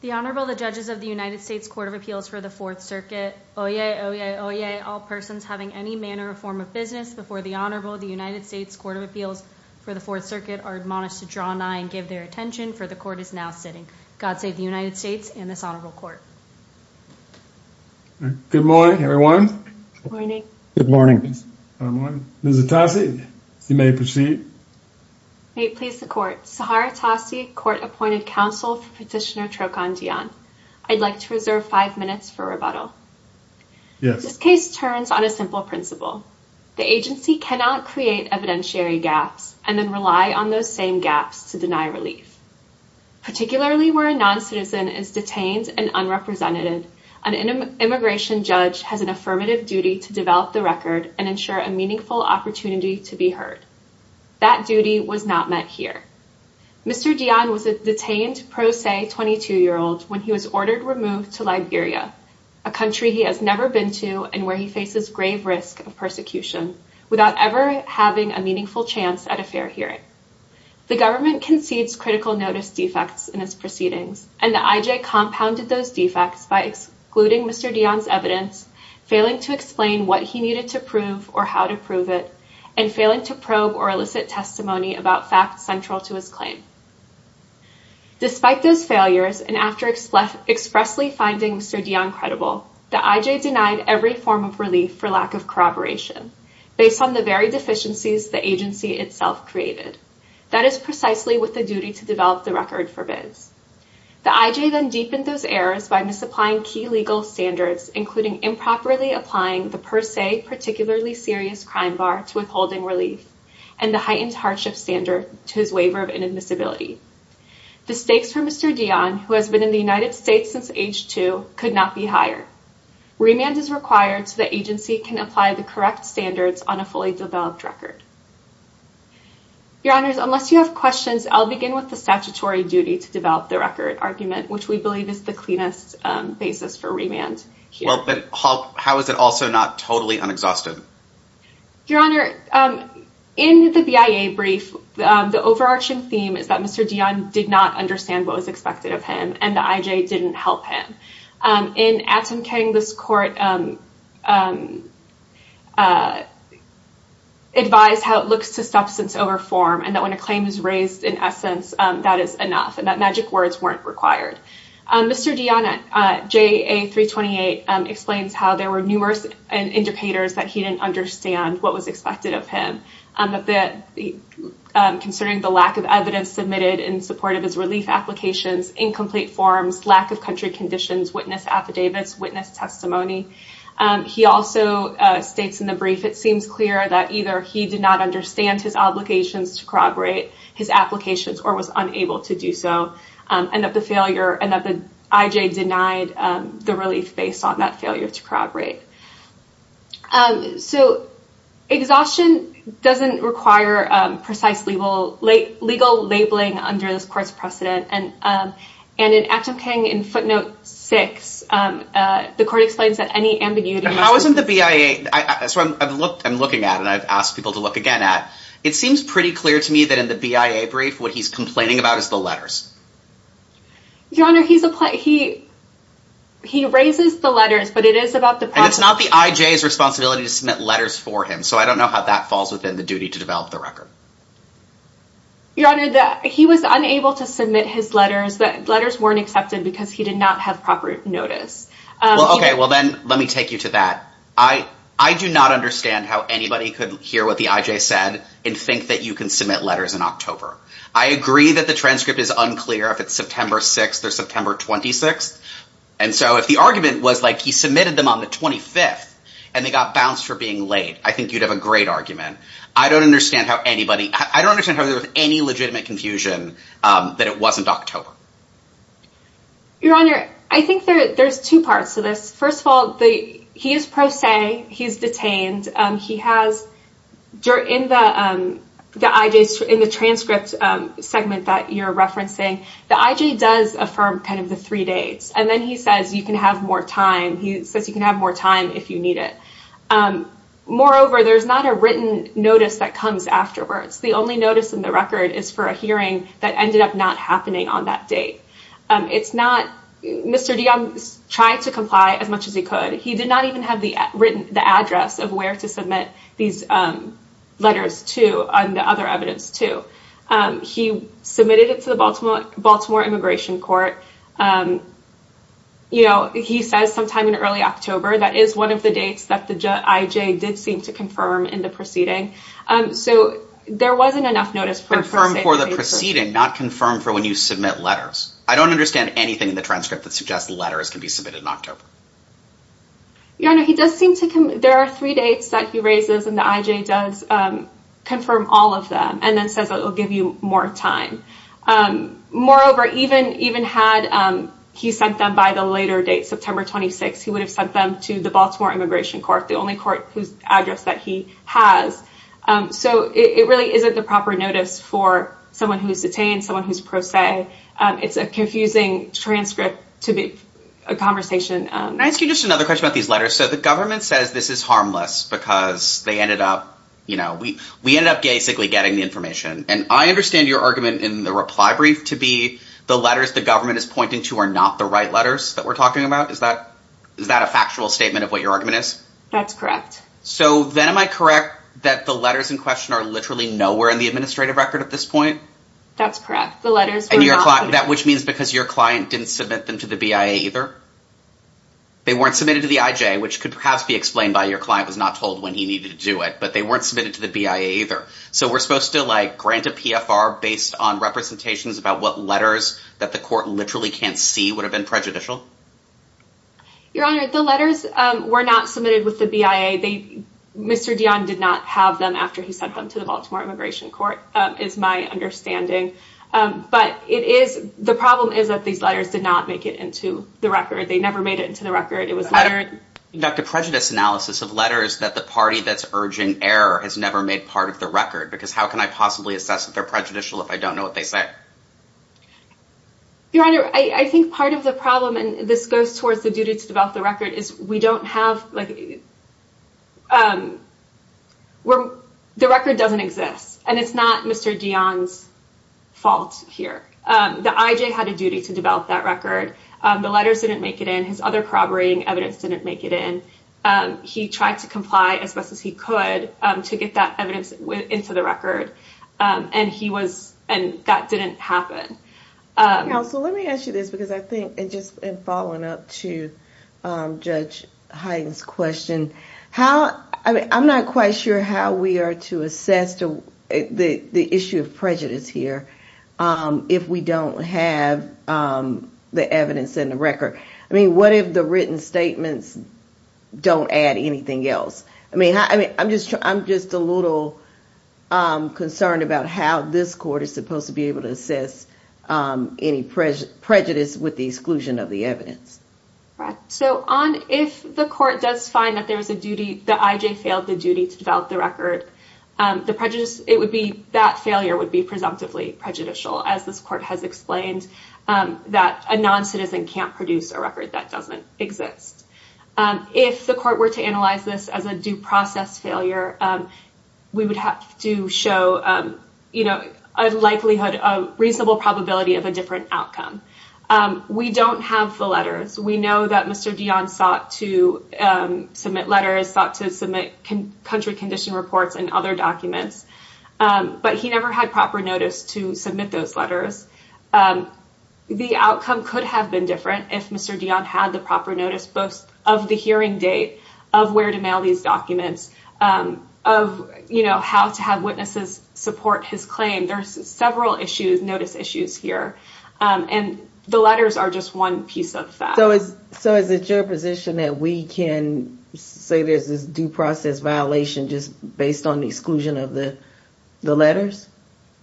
The Honorable the judges of the United States Court of Appeals for the Fourth Circuit. Oyez, oyez, oyez, all persons having any manner or form of business before the Honorable the United States Court of Appeals for the Fourth Circuit are admonished to draw an eye and give their attention for the court is now sitting. God save the United States and this Honorable Court. Good morning everyone. Good morning. Good morning. Good morning. Ms. Atassi, you may proceed. May it please the Court. Sahar Atassi, Court-Appointed Counsel for Petitioner Trokon Diahn. I'd like to reserve five minutes for rebuttal. Yes. This case turns on a simple principle. The agency cannot create evidentiary gaps and then rely on those same gaps to deny relief. Particularly where a non-citizen is detained and unrepresented, an immigration judge has an affirmative duty to develop the record and ensure a meaningful opportunity to be heard. That duty was not met here. Mr. Diahn was a detained pro se 22-year-old when he was ordered removed to Liberia, a country he has never been to and where he faces grave risk of persecution without ever having a meaningful chance at a fair hearing. The government concedes critical notice defects in his proceedings and the IJ compounded those defects by excluding Mr. Diahn's evidence, failing to explain what he needed to prove or how to prove it, and failing to probe or elicit testimony about facts central to his claim. Despite those failures and after expressly finding Mr. Diahn credible, the IJ denied every form of relief for lack of corroboration based on the very deficiencies the agency itself created. That is precisely what the duty to develop the record forbids. The IJ then deepened those errors by misapplying key legal standards, including improperly applying the per se particularly serious crime bar to withholding relief, and the heightened hardship standard to his waiver of inadmissibility. The stakes for Mr. Diahn, who has been in the United States since age two, could not be higher. Remand is required so the agency can apply the correct standards on a fully developed record. Your Honors, unless you have questions, I'll begin with the statutory duty to develop the record argument, which we believe is the cleanest basis for remand. How is it also not totally unexhausted? Your Honor, in the BIA brief, the overarching theme is that Mr. Diahn did not understand what was expected of him and the IJ didn't help him. In Atom King, this court advised how it looks to substance over form and that when a claim is raised, in essence, that is enough and that magic words weren't required. Mr. Diahn, JA 328, explains how there were numerous indicators that he didn't understand what was expected of him, considering the lack of evidence submitted in support of his relief applications, incomplete forms, lack of country conditions, witness affidavits, witness testimony. He also states in the brief, it seems clear that either he did not understand his obligations to corroborate his applications or was unable to do so and that the IJ denied the relief based on that failure to corroborate. So exhaustion doesn't require precise legal labeling under this court's precedent and in Atom King in footnote 6, the court explains that any ambiguity... How isn't the BIA, I'm looking at and I've asked people to look again at, it seems pretty clear to me that in the BIA brief, what he's complaining about is the letters. Your Honor, he raises the letters, but it is about the... And it's not the IJ's responsibility to submit letters for him, so I don't know how that falls within the duty to develop the record. Your Honor, he was unable to submit his letters, the letters weren't accepted because he did not have proper notice. Okay, well then let me take you to that. I do not understand how anybody could hear what the IJ said and think that you can submit letters in October. I agree that the transcript is unclear if it's September 6th or September 26th. And so if the argument was like he submitted them on the 25th and they got bounced for being late, I think you'd have a great argument. I don't understand how anybody... I don't understand how there was any legitimate confusion that it wasn't October. Your Honor, I think there's two parts to this. First of all, he is pro se, he's detained, he has... In the transcript segment that you're referencing, the IJ does affirm kind of the three dates, and then he says you can have more time. He says you can have more time if you need it. Moreover, there's not a written notice that comes afterwards. The only notice in the record is for a hearing that ended up not happening on that date. It's not... Mr. DeYoung tried to comply as much as he could. He did not even have the address of where to submit these letters to and the other evidence to. He submitted it to the Baltimore Immigration Court. He says sometime in early October. That is one of the dates that the IJ did seem to confirm in the proceeding. There wasn't enough notice for... Confirmed for the proceeding, not confirmed for when you submit letters. I don't understand anything in the transcript that suggests letters can be submitted in October. Your Honor, he does seem to... There are three dates that he raises and the IJ does confirm all of them and then says it will give you more time. Moreover, even had he sent them by the later date, September 26th, he would have sent them to the Baltimore Immigration Court, the only court whose address that he has. It really isn't the proper notice for someone who's detained, someone who's pro se. It's a confusing transcript to be... A conversation. Can I ask you just another question about these letters? The government says this is harmless because they ended up... We ended up basically getting the information. I understand your argument in the reply brief to be the letters the government is pointing to are not the right letters that we're talking about. Is that a factual statement of what your argument is? That's correct. Then am I correct that the letters in question are literally nowhere in the administrative record at this point? That's correct. The letters were not... Which means because your client didn't submit them to the BIA either? They weren't submitted to the IJ, which could perhaps be explained by your client was not told when he needed to do it, but they weren't submitted to the BIA either. We're supposed to grant a PFR based on representations about what letters that the court literally can't see would have been prejudicial? Your Honor, the letters were not submitted with the BIA. Mr. Dionne did not have them after he sent them to the Baltimore Immigration Court, is my understanding. But the problem is that these letters did not make it into the record. They never made it into the record. It was lettered... Conduct a prejudice analysis of letters that the party that's urging error has never made part of the record, because how can I possibly assess that they're prejudicial if I don't know what they say? Your Honor, I think part of the problem, and this goes towards the duty to develop the record, is we don't have... The record doesn't exist, and it's not Mr. Dionne's fault here. The IJ had a duty to develop that record. The letters didn't make it in. His other corroborating evidence didn't make it in. He tried to comply as best as he could to get that evidence into the record, and he was... And that didn't happen. Counsel, let me ask you this, because I think it just... In following up to Judge Hyden's question, how... I mean, I'm not quite sure how we are to assess the issue of prejudice here if we don't have the evidence in the record. I mean, what if the written statements don't add anything else? I mean, I'm just a little concerned about how this court is supposed to be able to assess any prejudice with the exclusion of the evidence. Right. So on if the court does find that there is a duty... The IJ failed the duty to develop the record, the prejudice... It would be... That failure would be presumptively prejudicial, as this court has explained, that a non-citizen can't produce a record that doesn't exist. If the court were to analyze this as a due process failure, we would have to show, you know, a likelihood, a reasonable probability of a different outcome. We don't have the letters. We know that Mr. Dion sought to submit letters, sought to submit country condition reports and other documents, but he never had proper notice to submit those letters. The outcome could have been different if Mr. Dion had the proper notice, both of the hearing date, of where to mail these documents, of, you know, how to have witnesses support his claim. There's several issues, notice issues here, and the letters are just one piece of that. So is it your position that we can say there's this due process violation just based on the exclusion of the letters?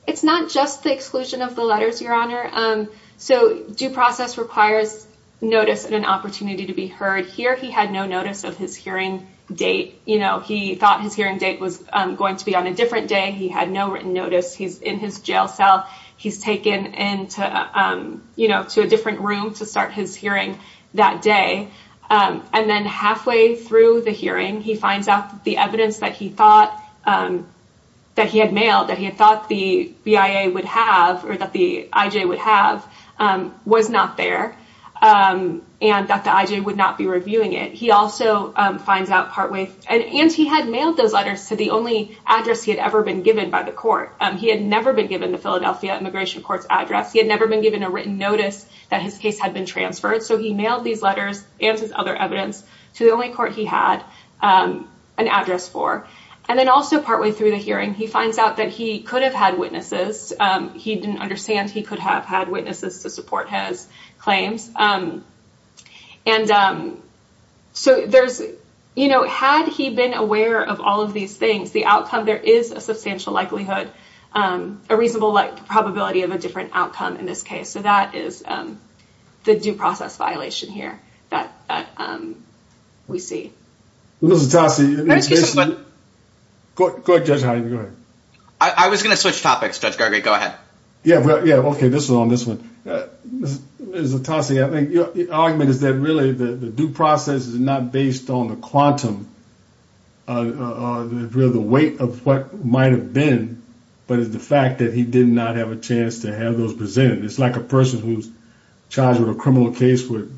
It's not just the exclusion of the letters, Your Honor. So due process requires notice and an opportunity to be heard. Here, he had no notice of his hearing date. You know, he thought his hearing date was going to be on a different day. He had no written notice. He's in his jail cell. He's taken into, you know, to a different room to start his hearing that day. And then halfway through the hearing, he finds out the evidence that he thought, that he had mailed, that he had thought the BIA would have, or that the IJ would have, was not there and that the IJ would not be reviewing it. He also finds out partway, and he had mailed those letters to the only address he had ever been given by the court. He had never been given the Philadelphia Immigration Court's address. He had never been given a written notice that his case had been transferred. So he mailed these letters and his other evidence to the only court he had an address for. And then also partway through the hearing, he finds out that he could have had witnesses. He didn't understand he could have had witnesses to support his claims. And so there's, you know, had he been aware of all of these things, the outcome, there is a substantial likelihood, a reasonable probability of a different outcome in this case. So that is the due process violation here that we see. Ms. Itasi, go ahead, Judge Hyman. Go ahead. I was going to switch topics, Judge Gargay. Go ahead. Yeah. Yeah. Okay. This is on this one. Ms. Itasi, I think your argument is that really the due process is not based on the quantum or the weight of what might have been, but it's the fact that he did not have a chance to have those presented. It's like a person who's charged with a criminal case with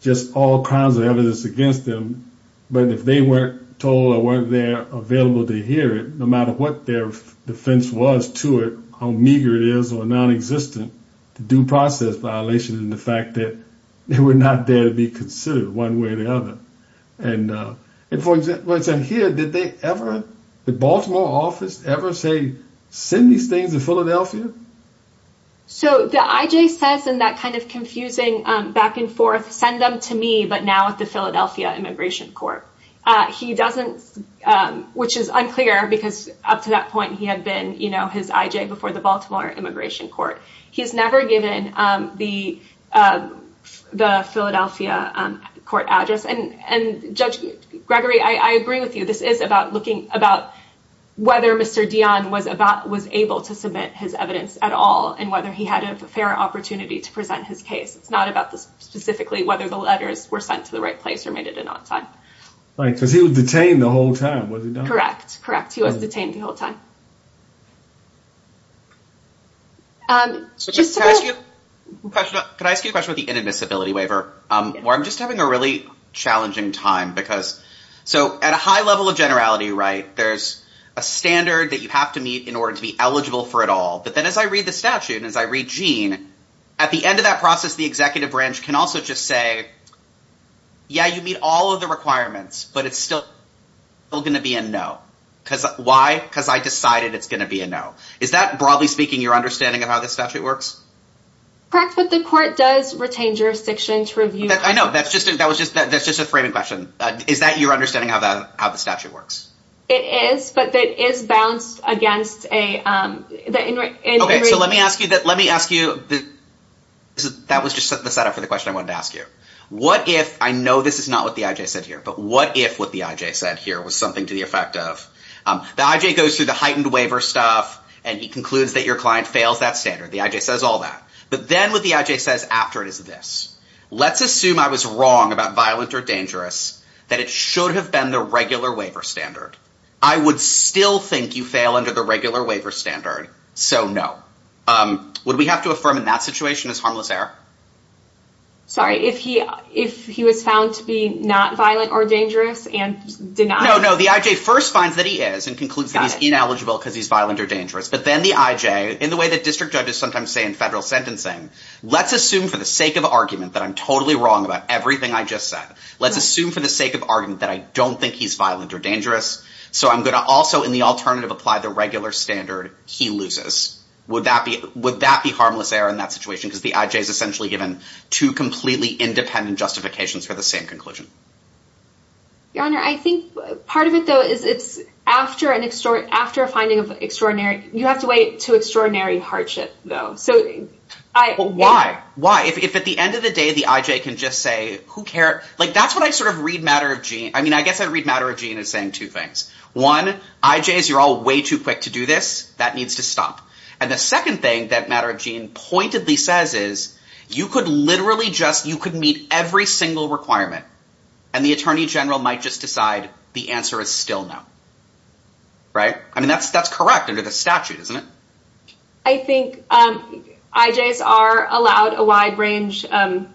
just all kinds of evidence against them. But if they weren't told or weren't there available to hear it, no matter what their defense was to it, how meager it is or non-existent, the due process violation is the fact that they were not there to be considered one way or the other. And for instance, here, did they ever, the Baltimore office ever say, send these things to Philadelphia? So the I.J. says in that kind of confusing back and forth, send them to me, but now at the Philadelphia Immigration Court. He doesn't, which is unclear because up to that point he had been his I.J. before the Baltimore Immigration Court. He's never given the Philadelphia court address. And Judge Gregory, I agree with you. This is about looking about whether Mr. Dionne was able to submit his evidence at all and whether he had a fair opportunity to present his case. It's not about specifically whether the letters were sent to the right place or made it in on time. Right. Because he was detained the whole time, was he not? Correct. Correct. He was detained the whole time. So just to ask you, can I ask you a question with the inadmissibility waiver where I'm just having a really challenging time because so at a high level of generality, right, there's a standard that you have to meet in order to be eligible for it all. But then as I read the statute, as I read Gene, at the end of that process, the executive branch can also just say, yeah, you meet all of the requirements, but it's still going to be a no. Why? Because I decided it's going to be a no. Is that broadly jurisdiction to review? I know. That's just a framing question. Is that your understanding of how the statute works? It is, but that is balanced against a... Okay. So let me ask you, that was just the setup for the question I wanted to ask you. What if, I know this is not what the IJ said here, but what if what the IJ said here was something to the effect of, the IJ goes through the heightened waiver stuff and he concludes that your client fails that standard. The IJ says all that. But then what the IJ says after it is this, let's assume I was wrong about violent or dangerous, that it should have been the regular waiver standard. I would still think you fail under the regular waiver standard, so no. Would we have to affirm in that situation as harmless error? Sorry, if he was found to be not violent or dangerous and denied? No, no. The IJ first finds that he is and concludes that he's ineligible because he's violent or dangerous. But then the IJ, in the way that district judges sometimes say in federal sentencing, let's assume for the sake of argument that I'm totally wrong about everything I just said. Let's assume for the sake of argument that I don't think he's violent or dangerous. So I'm going to also, in the alternative, apply the regular standard he loses. Would that be harmless error in that situation? Because the IJ is essentially given two completely independent justifications for the same conclusion. Your Honor, I think part of it though, is it's after a finding of extraordinary... You know, I... But why? Why? If at the end of the day, the IJ can just say, who cares? Like, that's what I sort of read Matter of Gene. I mean, I guess I read Matter of Gene as saying two things. One, IJs, you're all way too quick to do this. That needs to stop. And the second thing that Matter of Gene pointedly says is, you could literally just, you could meet every single requirement and the attorney general might just decide the answer is still no. Right? I mean, that's correct under the statute, isn't it? I think IJs are allowed a wide range, a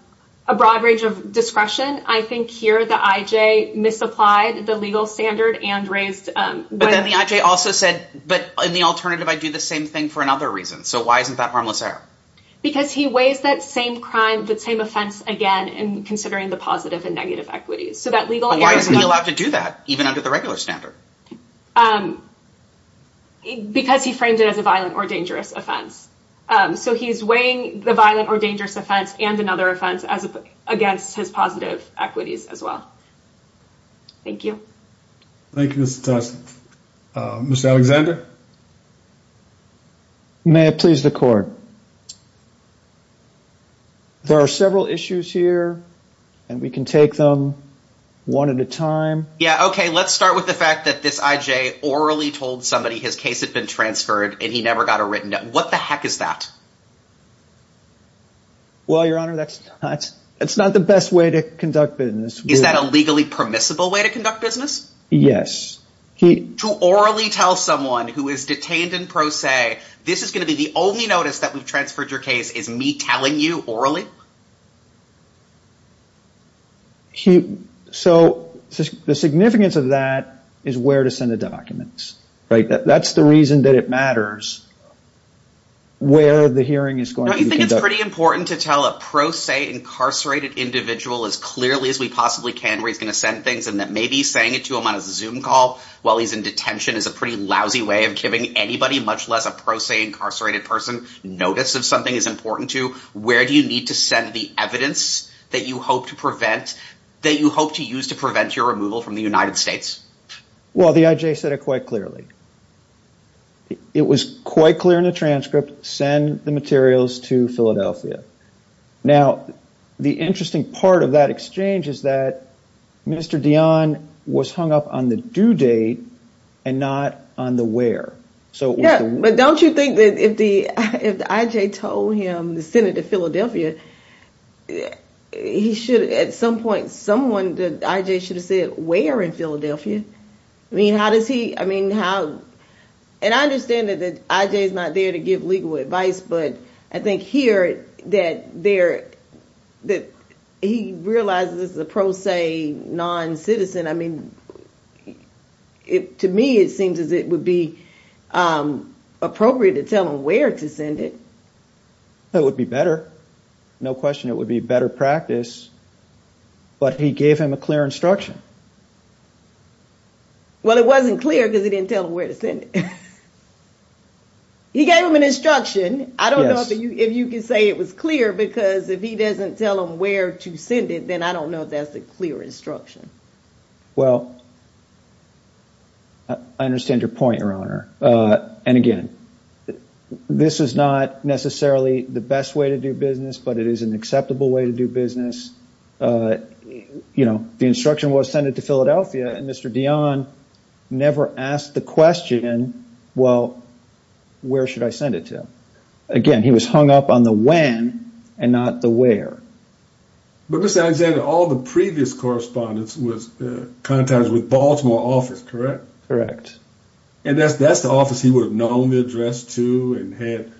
broad range of discretion. I think here the IJ misapplied the legal standard and raised... But then the IJ also said, but in the alternative, I do the same thing for another reason. So why isn't that harmless error? Because he weighs that same crime, the same offense again, and considering the positive and negative equities. So that legal... But why isn't he allowed to do that even under the regular standard? Because he framed it as a violent or dangerous offense. So he's weighing the violent or dangerous offense and another offense against his positive equities as well. Thank you. Thank you, Ms. Thompson. Mr. Alexander? May it please the court. There are several issues here and we can take them one at a time. Yeah. Okay. Let's start with the fact that this IJ orally told somebody his case had been transferred and he never got a written... What the heck is that? Well, Your Honor, that's not the best way to conduct business. Is that a legally permissible way to conduct business? Yes. To orally tell someone who is detained in pro se, this is going to be the only notice that we've transferred your case, is me telling you orally? So the significance of that is where to send the documents, right? That's the reason that it matters where the hearing is going to be conducted. Don't you think it's pretty important to tell a pro se incarcerated individual as clearly as we possibly can where he's going to send things and that maybe saying it to him on a Zoom call while he's in detention is a pretty lousy way of giving anybody, much less a pro se incarcerated person, notice if something is important to you. Where do you need to send the evidence that you hope to prevent, that you hope to use to prevent your removal from the United States? Well, the IJ said it quite clearly. It was quite clear in the transcript, send the materials to Philadelphia. Now, the interesting part of that exchange is that Mr. Dion was hung up on the due date and not on the where. Yeah, but don't you think that if the IJ told him to send it to Philadelphia, he should at some point, someone, the IJ should have said, where in Philadelphia? I mean, how does he, I mean, how? And I understand that the IJ is not there to give legal advice, but I think here that there, that he realizes the pro se non-citizen. I mean, to me, it seems as it would be appropriate to tell him where to send it. That would be better. No question, it would be better practice. But he gave him a clear instruction. Well, it wasn't clear because he didn't tell him where to send it. He gave him an instruction. I don't know if you can say it was clear because if he doesn't tell him where to send it, then I don't know if that's a clear instruction. Well, I understand your point, Your Honor. And again, this is not necessarily the best way to do business, but it is an acceptable way to do business. You know, the instruction was send it to Philadelphia and Mr. Dion never asked the question, well, where should I send it to? Again, he was hung up on the when and not the where. But Mr. Alexander, all the previous correspondence was contacted with Baltimore office, correct? And that's the office he would have known the address to and had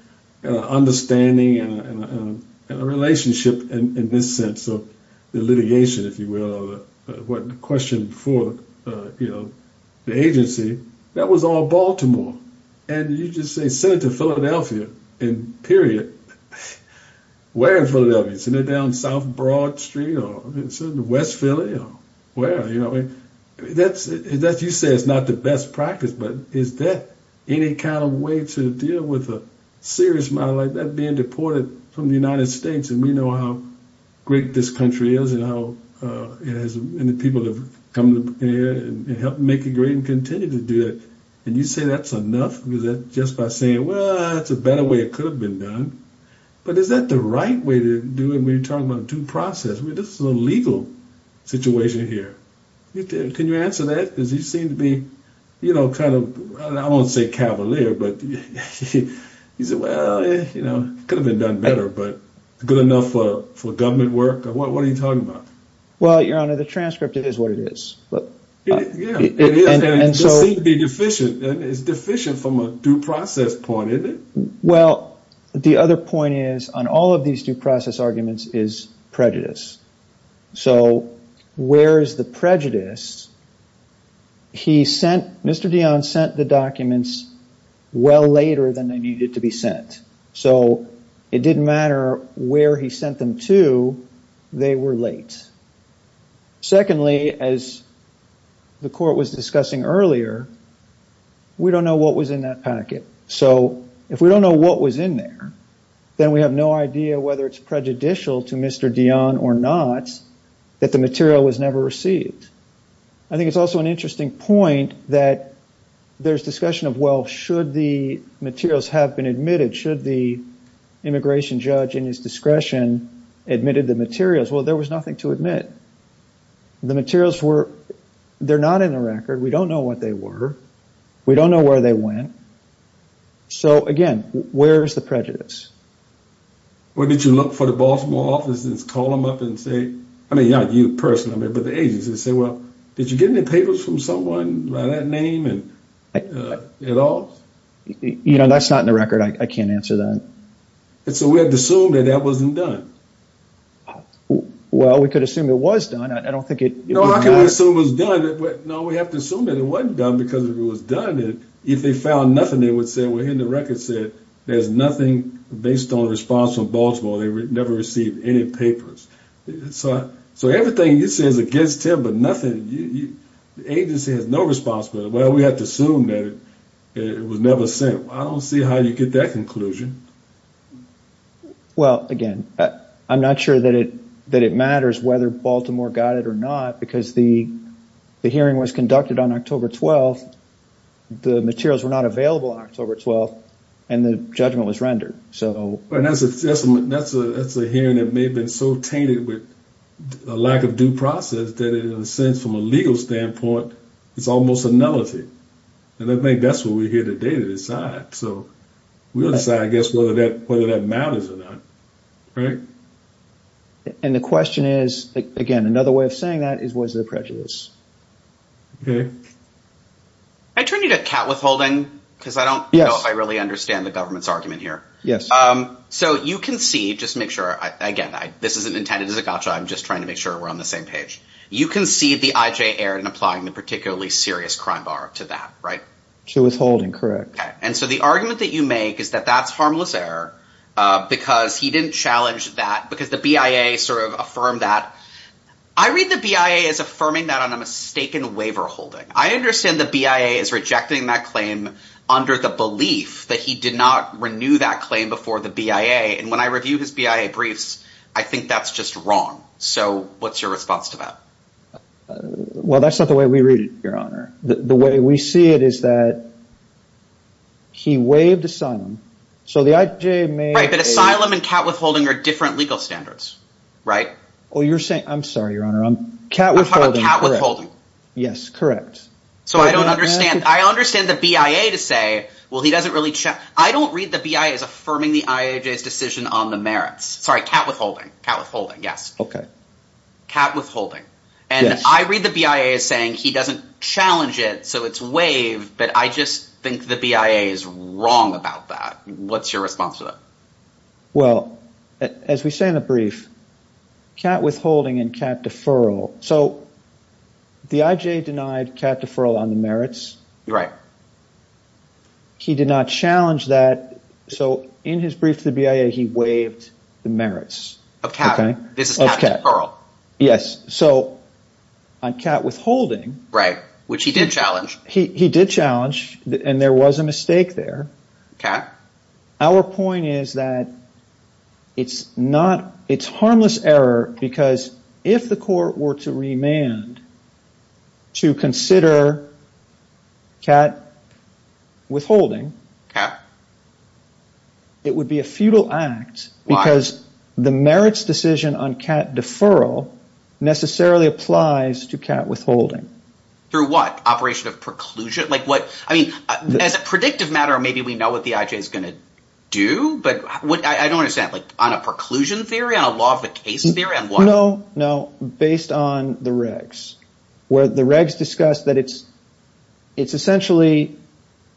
an understanding and a relationship in this sense of the litigation, if you will, or the question for the agency. That was all Baltimore. And you just say send it to Philadelphia and period. Where in Philadelphia? Send it down South Broad Street or West Philly or where? You say it's not the best practice, but is that any kind of way to deal with a serious matter like that being deported from the United States? And we know how great this country is and how many people have come here and helped make it great and continue to do it. And you say that's enough? Is that just by saying, well, that's a better way it could have been done. But is that the right way to do it when you're talking about due process? This is a legal situation here. Can you answer that? Because you seem to be, you know, kind of, I won't say cavalier, but you say, well, it could have been done better, but good enough for government work? What are you talking about? Well, Your Honor, the transcript is what it is. It seems to be deficient. It's deficient from a due process point, isn't it? Well, the other point is on all of these due process arguments is prejudice. So where is the prejudice? He sent, Mr. Dion sent the documents well later than they needed to be sent. So it didn't matter where he sent them to. They were late. Secondly, as the Court was discussing earlier, we don't know what was in that packet. So if we don't know what was in there, then we have no idea whether it's prejudicial to Mr. Dion or not that the material was never received. I think it's also an interesting point that there's discussion of, well, should the materials have been admitted? Should the immigration judge in his discretion admitted the materials? Well, there was nothing to admit. The materials were, they're not in the record. We don't know what they were. We don't know where they went. So, again, where is the prejudice? Well, did you look for the Baltimore office and call them up and say, I mean, not you personally, but the agency, and say, well, did you get any papers from someone by that name at all? You know, that's not in the record. I can't answer that. And so we have to assume that that wasn't done. Well, we could assume it was done. I don't think it would matter. No, I can assume it was done. No, we have to assume that it wasn't done because if it was done, if they found nothing, they would say, well, here in the record said there's nothing based on response from Baltimore. They never received any papers. So everything you say is against him, but nothing, the agency has no responsibility. Well, we have to assume that it was never sent. I don't see how you get that conclusion. Well, again, I'm not sure that it matters whether Baltimore got it or not, because the hearing was conducted on October 12th. The materials were not available on October 12th, and the judgment was rendered. That's a hearing that may have been so tainted with a lack of due process that, in a sense, from a legal standpoint, it's almost a nullity. And I think that's what we're here today to decide. So we'll decide, I guess, whether that matters or not. Right? And the question is, again, another way of saying that is was it a prejudice? Okay. I turn you to Kat Withholding because I don't know if I really understand the government's argument here. Yes. So you can see, just to make sure, again, this isn't intended as a gotcha. I'm just trying to make sure we're on the same page. You concede the IJ error in applying the particularly serious crime bar to that, right? To Withholding, correct. Okay. And so the argument that you make is that that's harmless error because he didn't challenge that, because the BIA sort of affirmed that. I read the BIA as affirming that on a mistaken waiver holding. I understand the BIA is rejecting that claim under the belief that he did not renew that claim before the BIA. And when I review his BIA briefs, I think that's just wrong. So what's your response to that? Well, that's not the way we read it, Your Honor. The way we see it is that he waived asylum. So the IJ made a – Right, but asylum and Kat Withholding are different legal standards, right? Oh, you're saying – I'm sorry, Your Honor. Kat Withholding, correct. I'm talking about Kat Withholding. Yes, correct. So I don't understand. I understand the BIA to say, well, he doesn't really – I don't read the BIA as affirming the IJ's decision on the merits. Sorry, Kat Withholding. Kat Withholding, yes. Okay. Kat Withholding. Yes. And I read the BIA as saying he doesn't challenge it, so it's waived, but I just think the BIA is wrong about that. What's your response to that? Well, as we say in the brief, Kat Withholding and Kat Deferral. So the IJ denied Kat Deferral on the merits. Right. He did not challenge that. So in his brief to the BIA, he waived the merits. Of Kat. Yes. So on Kat Withholding – Right, which he did challenge. He did challenge, and there was a mistake there. Okay. Our point is that it's not – it's harmless error because if the court were to remand to consider Kat Withholding, it would be a futile act because the merits decision on Kat Deferral necessarily applies to Kat Withholding. Through what? Operation of preclusion? Like what – I mean, as a predictive matter, maybe we know what the IJ is going to do, but I don't understand. Like on a preclusion theory, on a law of the case theory? No, no. It's based on the regs, where the regs discuss that it's essentially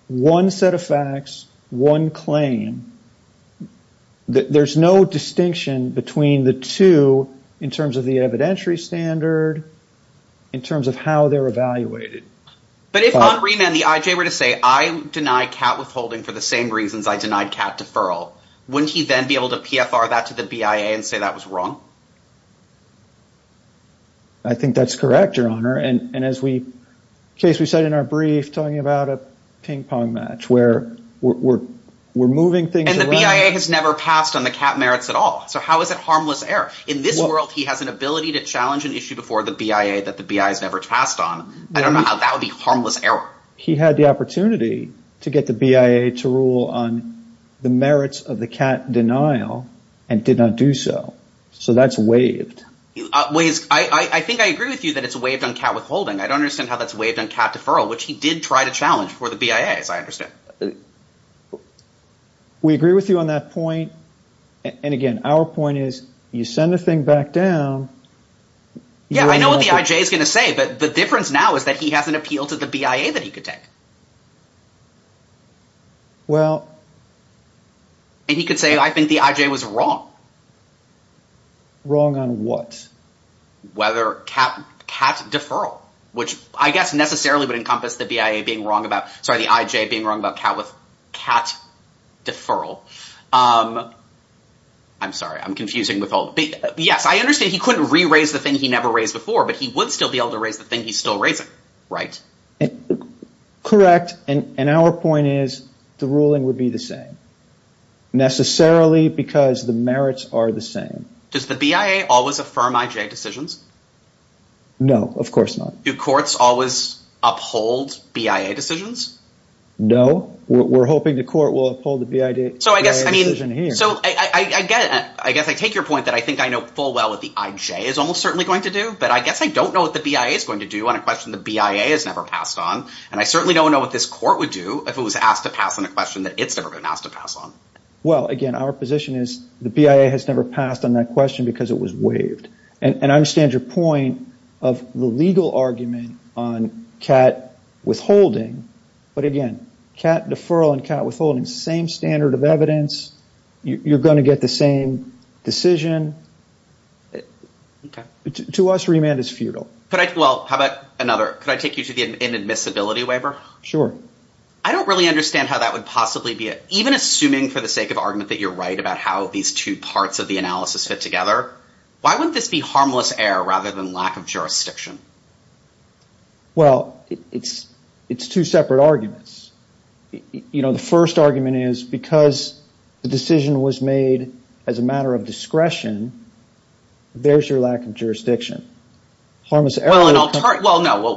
one set of facts, one claim. There's no distinction between the two in terms of the evidentiary standard, in terms of how they're evaluated. But if on remand the IJ were to say, I deny Kat Withholding for the same reasons I denied Kat Deferral, wouldn't he then be able to PFR that to the BIA and say that was wrong? I think that's correct, Your Honor. And as we said in our brief talking about a ping pong match where we're moving things around. And the BIA has never passed on the Kat merits at all. So how is it harmless error? In this world, he has an ability to challenge an issue before the BIA that the BIA has never passed on. I don't know how that would be harmless error. He had the opportunity to get the BIA to rule on the merits of the Kat denial and did not do so. So that's waived. I think I agree with you that it's waived on Kat Withholding. I don't understand how that's waived on Kat Deferral, which he did try to challenge for the BIA, as I understand. We agree with you on that point. And again, our point is you send the thing back down. Yeah, I know what the IJ is going to say, but the difference now is that he has an appeal to the BIA that he could take. Well. And he could say, I think the IJ was wrong. Wrong on what? Whether Kat Deferral, which I guess necessarily would encompass the BIA being wrong about, sorry, the IJ being wrong about Kat Deferral. I'm sorry, I'm confusing Withholding. Yes, I understand he couldn't re-raise the thing he never raised before, but he would still be able to raise the thing he's still raising. Right? Correct. And our point is the ruling would be the same. Necessarily because the merits are the same. Does the BIA always affirm IJ decisions? No, of course not. Do courts always uphold BIA decisions? No. We're hoping the court will uphold the BIA decision here. So I guess I take your point that I think I know full well what the IJ is almost certainly going to do, but I guess I don't know what the BIA is going to do on a question the BIA has never passed on. And I certainly don't know what this court would do if it was asked to pass on a question that it's never been asked to pass on. Well, again, our position is the BIA has never passed on that question because it was waived. And I understand your point of the legal argument on Kat Withholding. But, again, Kat Deferral and Kat Withholding, same standard of evidence. You're going to get the same decision. To us, remand is futile. Well, how about another? Could I take you to the inadmissibility waiver? Sure. I don't really understand how that would possibly be. Even assuming for the sake of argument that you're right about how these two parts of the analysis fit together, why wouldn't this be harmless error rather than lack of jurisdiction? Well, it's two separate arguments. You know, the first argument is because the decision was made as a matter of discretion, there's your lack of jurisdiction. Well, no.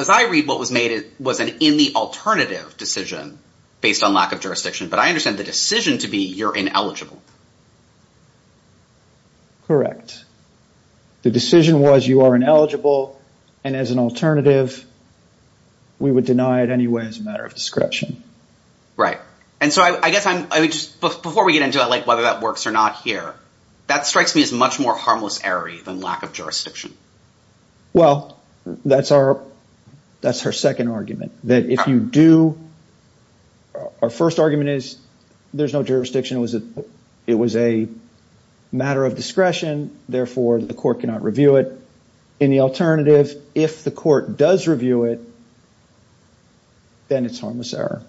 As I read, what was made was an in the alternative decision based on lack of jurisdiction. But I understand the decision to be you're ineligible. Correct. The decision was you are ineligible. And as an alternative, we would deny it anyway as a matter of discretion. Right. And so I guess before we get into whether that works or not here, that strikes me as much more harmless error-y than lack of jurisdiction. Well, that's our second argument. Our first argument is there's no jurisdiction. It was a matter of discretion. Therefore, the court cannot review it. In the alternative, if the court does review it, then it's harmless error.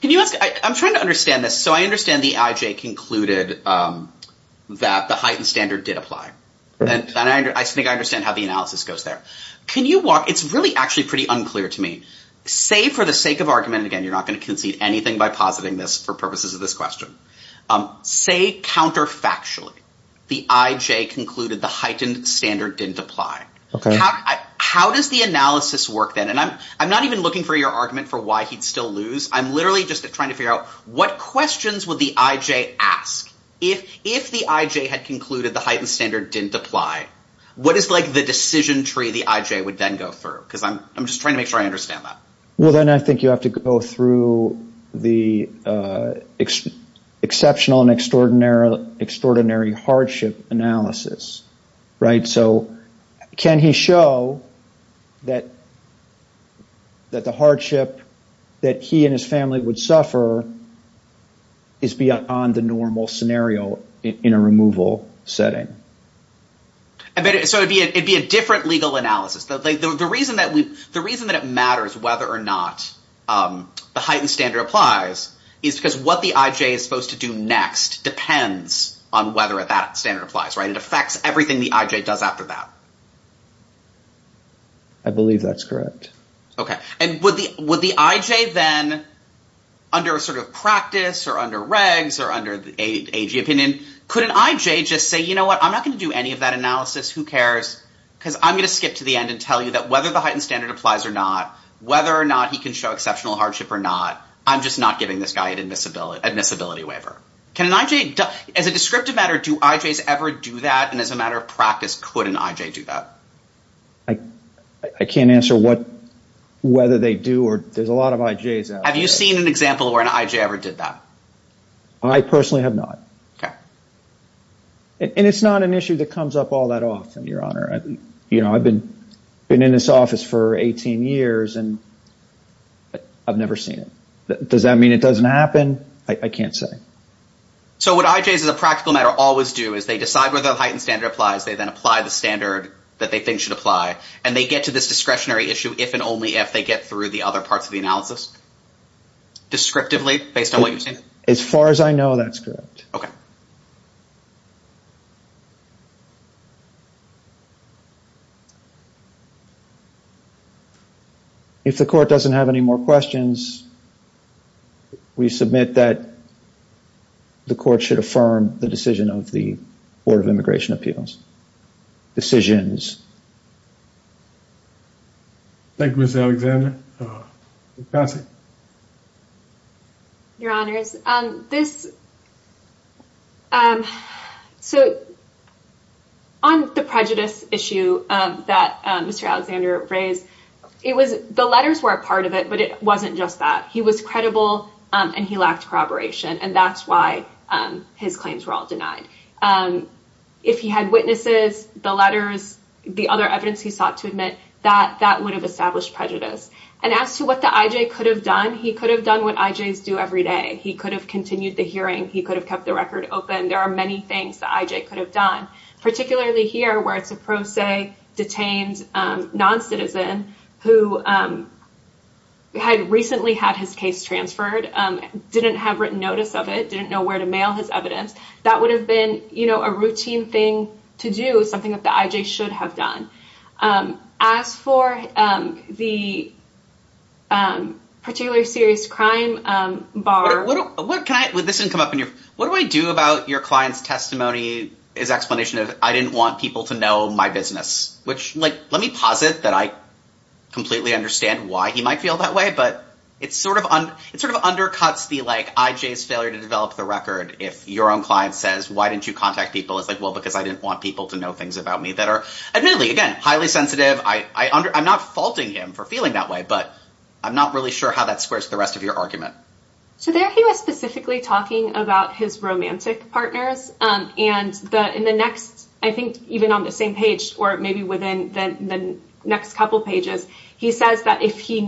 Can you ask? I'm trying to understand this. So I understand the IJ concluded that the heightened standard did apply. And I think I understand how the analysis goes there. Can you walk? It's really actually pretty unclear to me. Say for the sake of argument, again, you're not going to concede anything by positing this for purposes of this question. Say counterfactually, the IJ concluded the heightened standard didn't apply. How does the analysis work then? And I'm not even looking for your argument for why he'd still lose. I'm literally just trying to figure out what questions would the IJ ask? If the IJ had concluded the heightened standard didn't apply, what is like the decision tree the IJ would then go through? Because I'm just trying to make sure I understand that. Well, then I think you have to go through the exceptional and extraordinary hardship analysis. So can he show that the hardship that he and his family would suffer is beyond the normal scenario in a removal setting? So it'd be a different legal analysis. The reason that it matters whether or not the heightened standard applies is because what the IJ is supposed to do next depends on whether that standard applies. It affects everything the IJ does after that. I believe that's correct. Okay. And would the IJ then, under sort of practice or under regs or under the AG opinion, could an IJ just say, you know what, I'm not going to do any of that analysis. Who cares? Because I'm going to skip to the end and tell you that whether the heightened standard applies or not, whether or not he can show exceptional hardship or not, I'm just not giving this guy an admissibility waiver. As a descriptive matter, do IJs ever do that? And as a matter of practice, could an IJ do that? I can't answer whether they do or not. There's a lot of IJs out there. Have you seen an example where an IJ ever did that? I personally have not. Okay. And it's not an issue that comes up all that often, Your Honor. I've been in this office for 18 years, and I've never seen it. Does that mean it doesn't happen? I can't say. So what IJs, as a practical matter, always do is they decide whether the heightened standard applies, they then apply the standard that they think should apply, and they get to this discretionary issue if and only if they get through the other parts of the analysis? Descriptively, based on what you're saying? As far as I know, that's correct. Okay. If the Court doesn't have any more questions, we submit that the Court should affirm the decision of the Board of Immigration Appeals. Decisions. Thank you, Mr. Alexander. Pass it. Your Honors, on the prejudice issue that Mr. Alexander raised, the letters were a part of it, but it wasn't just that. He was credible, and he lacked corroboration, and that's why his claims were all denied. If he had witnesses, the letters, the other evidence he sought to admit, that would have established prejudice. And as to what the IJ could have done, he could have done what IJs do every day. He could have continued the hearing. He could have kept the record open. There are many things the IJ could have done, particularly here where it's a pro se detained noncitizen who had recently had his case transferred, didn't have written notice of it, didn't know where to mail his evidence. That would have been a routine thing to do, something that the IJ should have done. As for the particularly serious crime bar— What do I do about your client's testimony, his explanation of, I didn't want people to know my business? Let me posit that I completely understand why he might feel that way, but it sort of undercuts the IJ's failure to develop the record. If your own client says, why didn't you contact people? It's like, well, because I didn't want people to know things about me that are admittedly, again, highly sensitive. I'm not faulting him for feeling that way, but I'm not really sure how that squares the rest of your argument. So there he was specifically talking about his romantic partners. And in the next, I think even on the same page or maybe within the next couple pages, he says that if he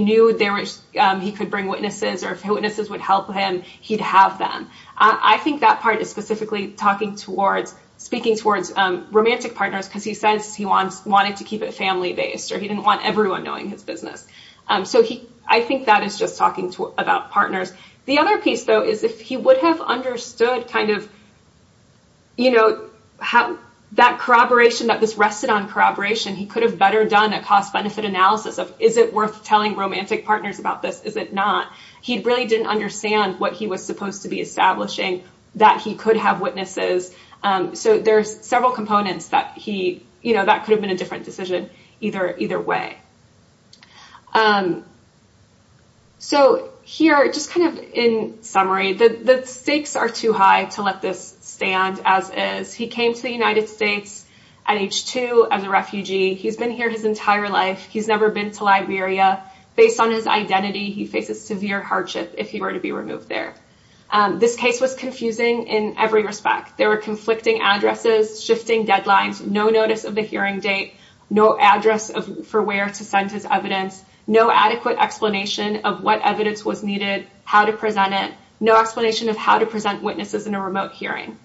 knew he could bring witnesses or if witnesses would help him, he'd have them. I think that part is specifically speaking towards romantic partners because he says he wanted to keep it family-based or he didn't want everyone knowing his business. So I think that is just talking about partners. The other piece, though, is if he would have understood that corroboration, that this rested on corroboration, he could have better done a cost-benefit analysis of, is it worth telling romantic partners about this? Is it not? He really didn't understand what he was supposed to be establishing, that he could have witnesses. So there's several components that he, you know, that could have been a different decision either way. So here, just kind of in summary, the stakes are too high to let this stand as is. He came to the United States at age two as a refugee. He's been here his entire life. He's never been to Liberia. Based on his identity, he faces severe hardship if he were to be removed there. This case was confusing in every respect. There were conflicting addresses, shifting deadlines, no notice of the hearing date, no address for where to send his evidence, no adequate explanation of what evidence was needed, how to present it, no explanation of how to present witnesses in a remote hearing.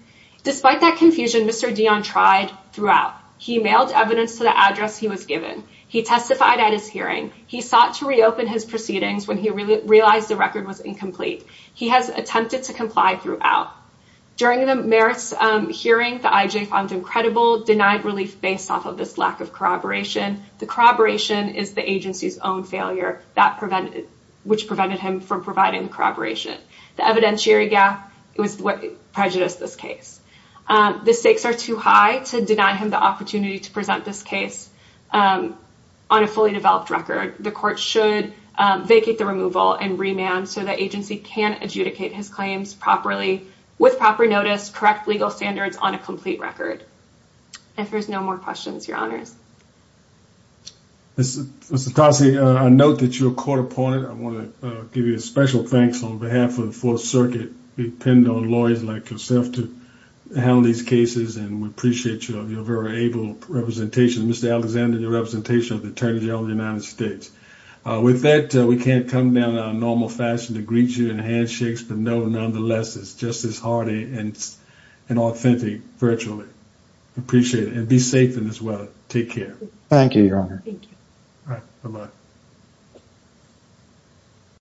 Despite that confusion, Mr. Dion tried throughout. He mailed evidence to the address he was given. He testified at his hearing. He sought to reopen his proceedings when he realized the record was incomplete. He has attempted to comply throughout. During the merits hearing, the IJ found him credible, denied relief based off of this lack of corroboration. The corroboration is the agency's own failure that prevented, which prevented him from providing the corroboration. The evidentiary gap was what prejudiced this case. The stakes are too high to deny him the opportunity to present this case on a fully developed record. The court should vacate the removal and remand so the agency can adjudicate his claims properly, with proper notice, correct legal standards on a complete record. If there's no more questions, your honors. Mr. Tassi, I note that you're a court opponent. I want to give you a special thanks on behalf of the Fourth Circuit. We depend on lawyers like yourself to handle these cases, and we appreciate your very able representation. Mr. Alexander, your representation of the Attorney General of the United States. With that, we can't come down in our normal fashion to greet you in handshakes. But nonetheless, it's just as hearty and authentic virtually. Appreciate it. And be safe in this weather. Take care. Thank you, your honor. Thank you. All right. Bye-bye.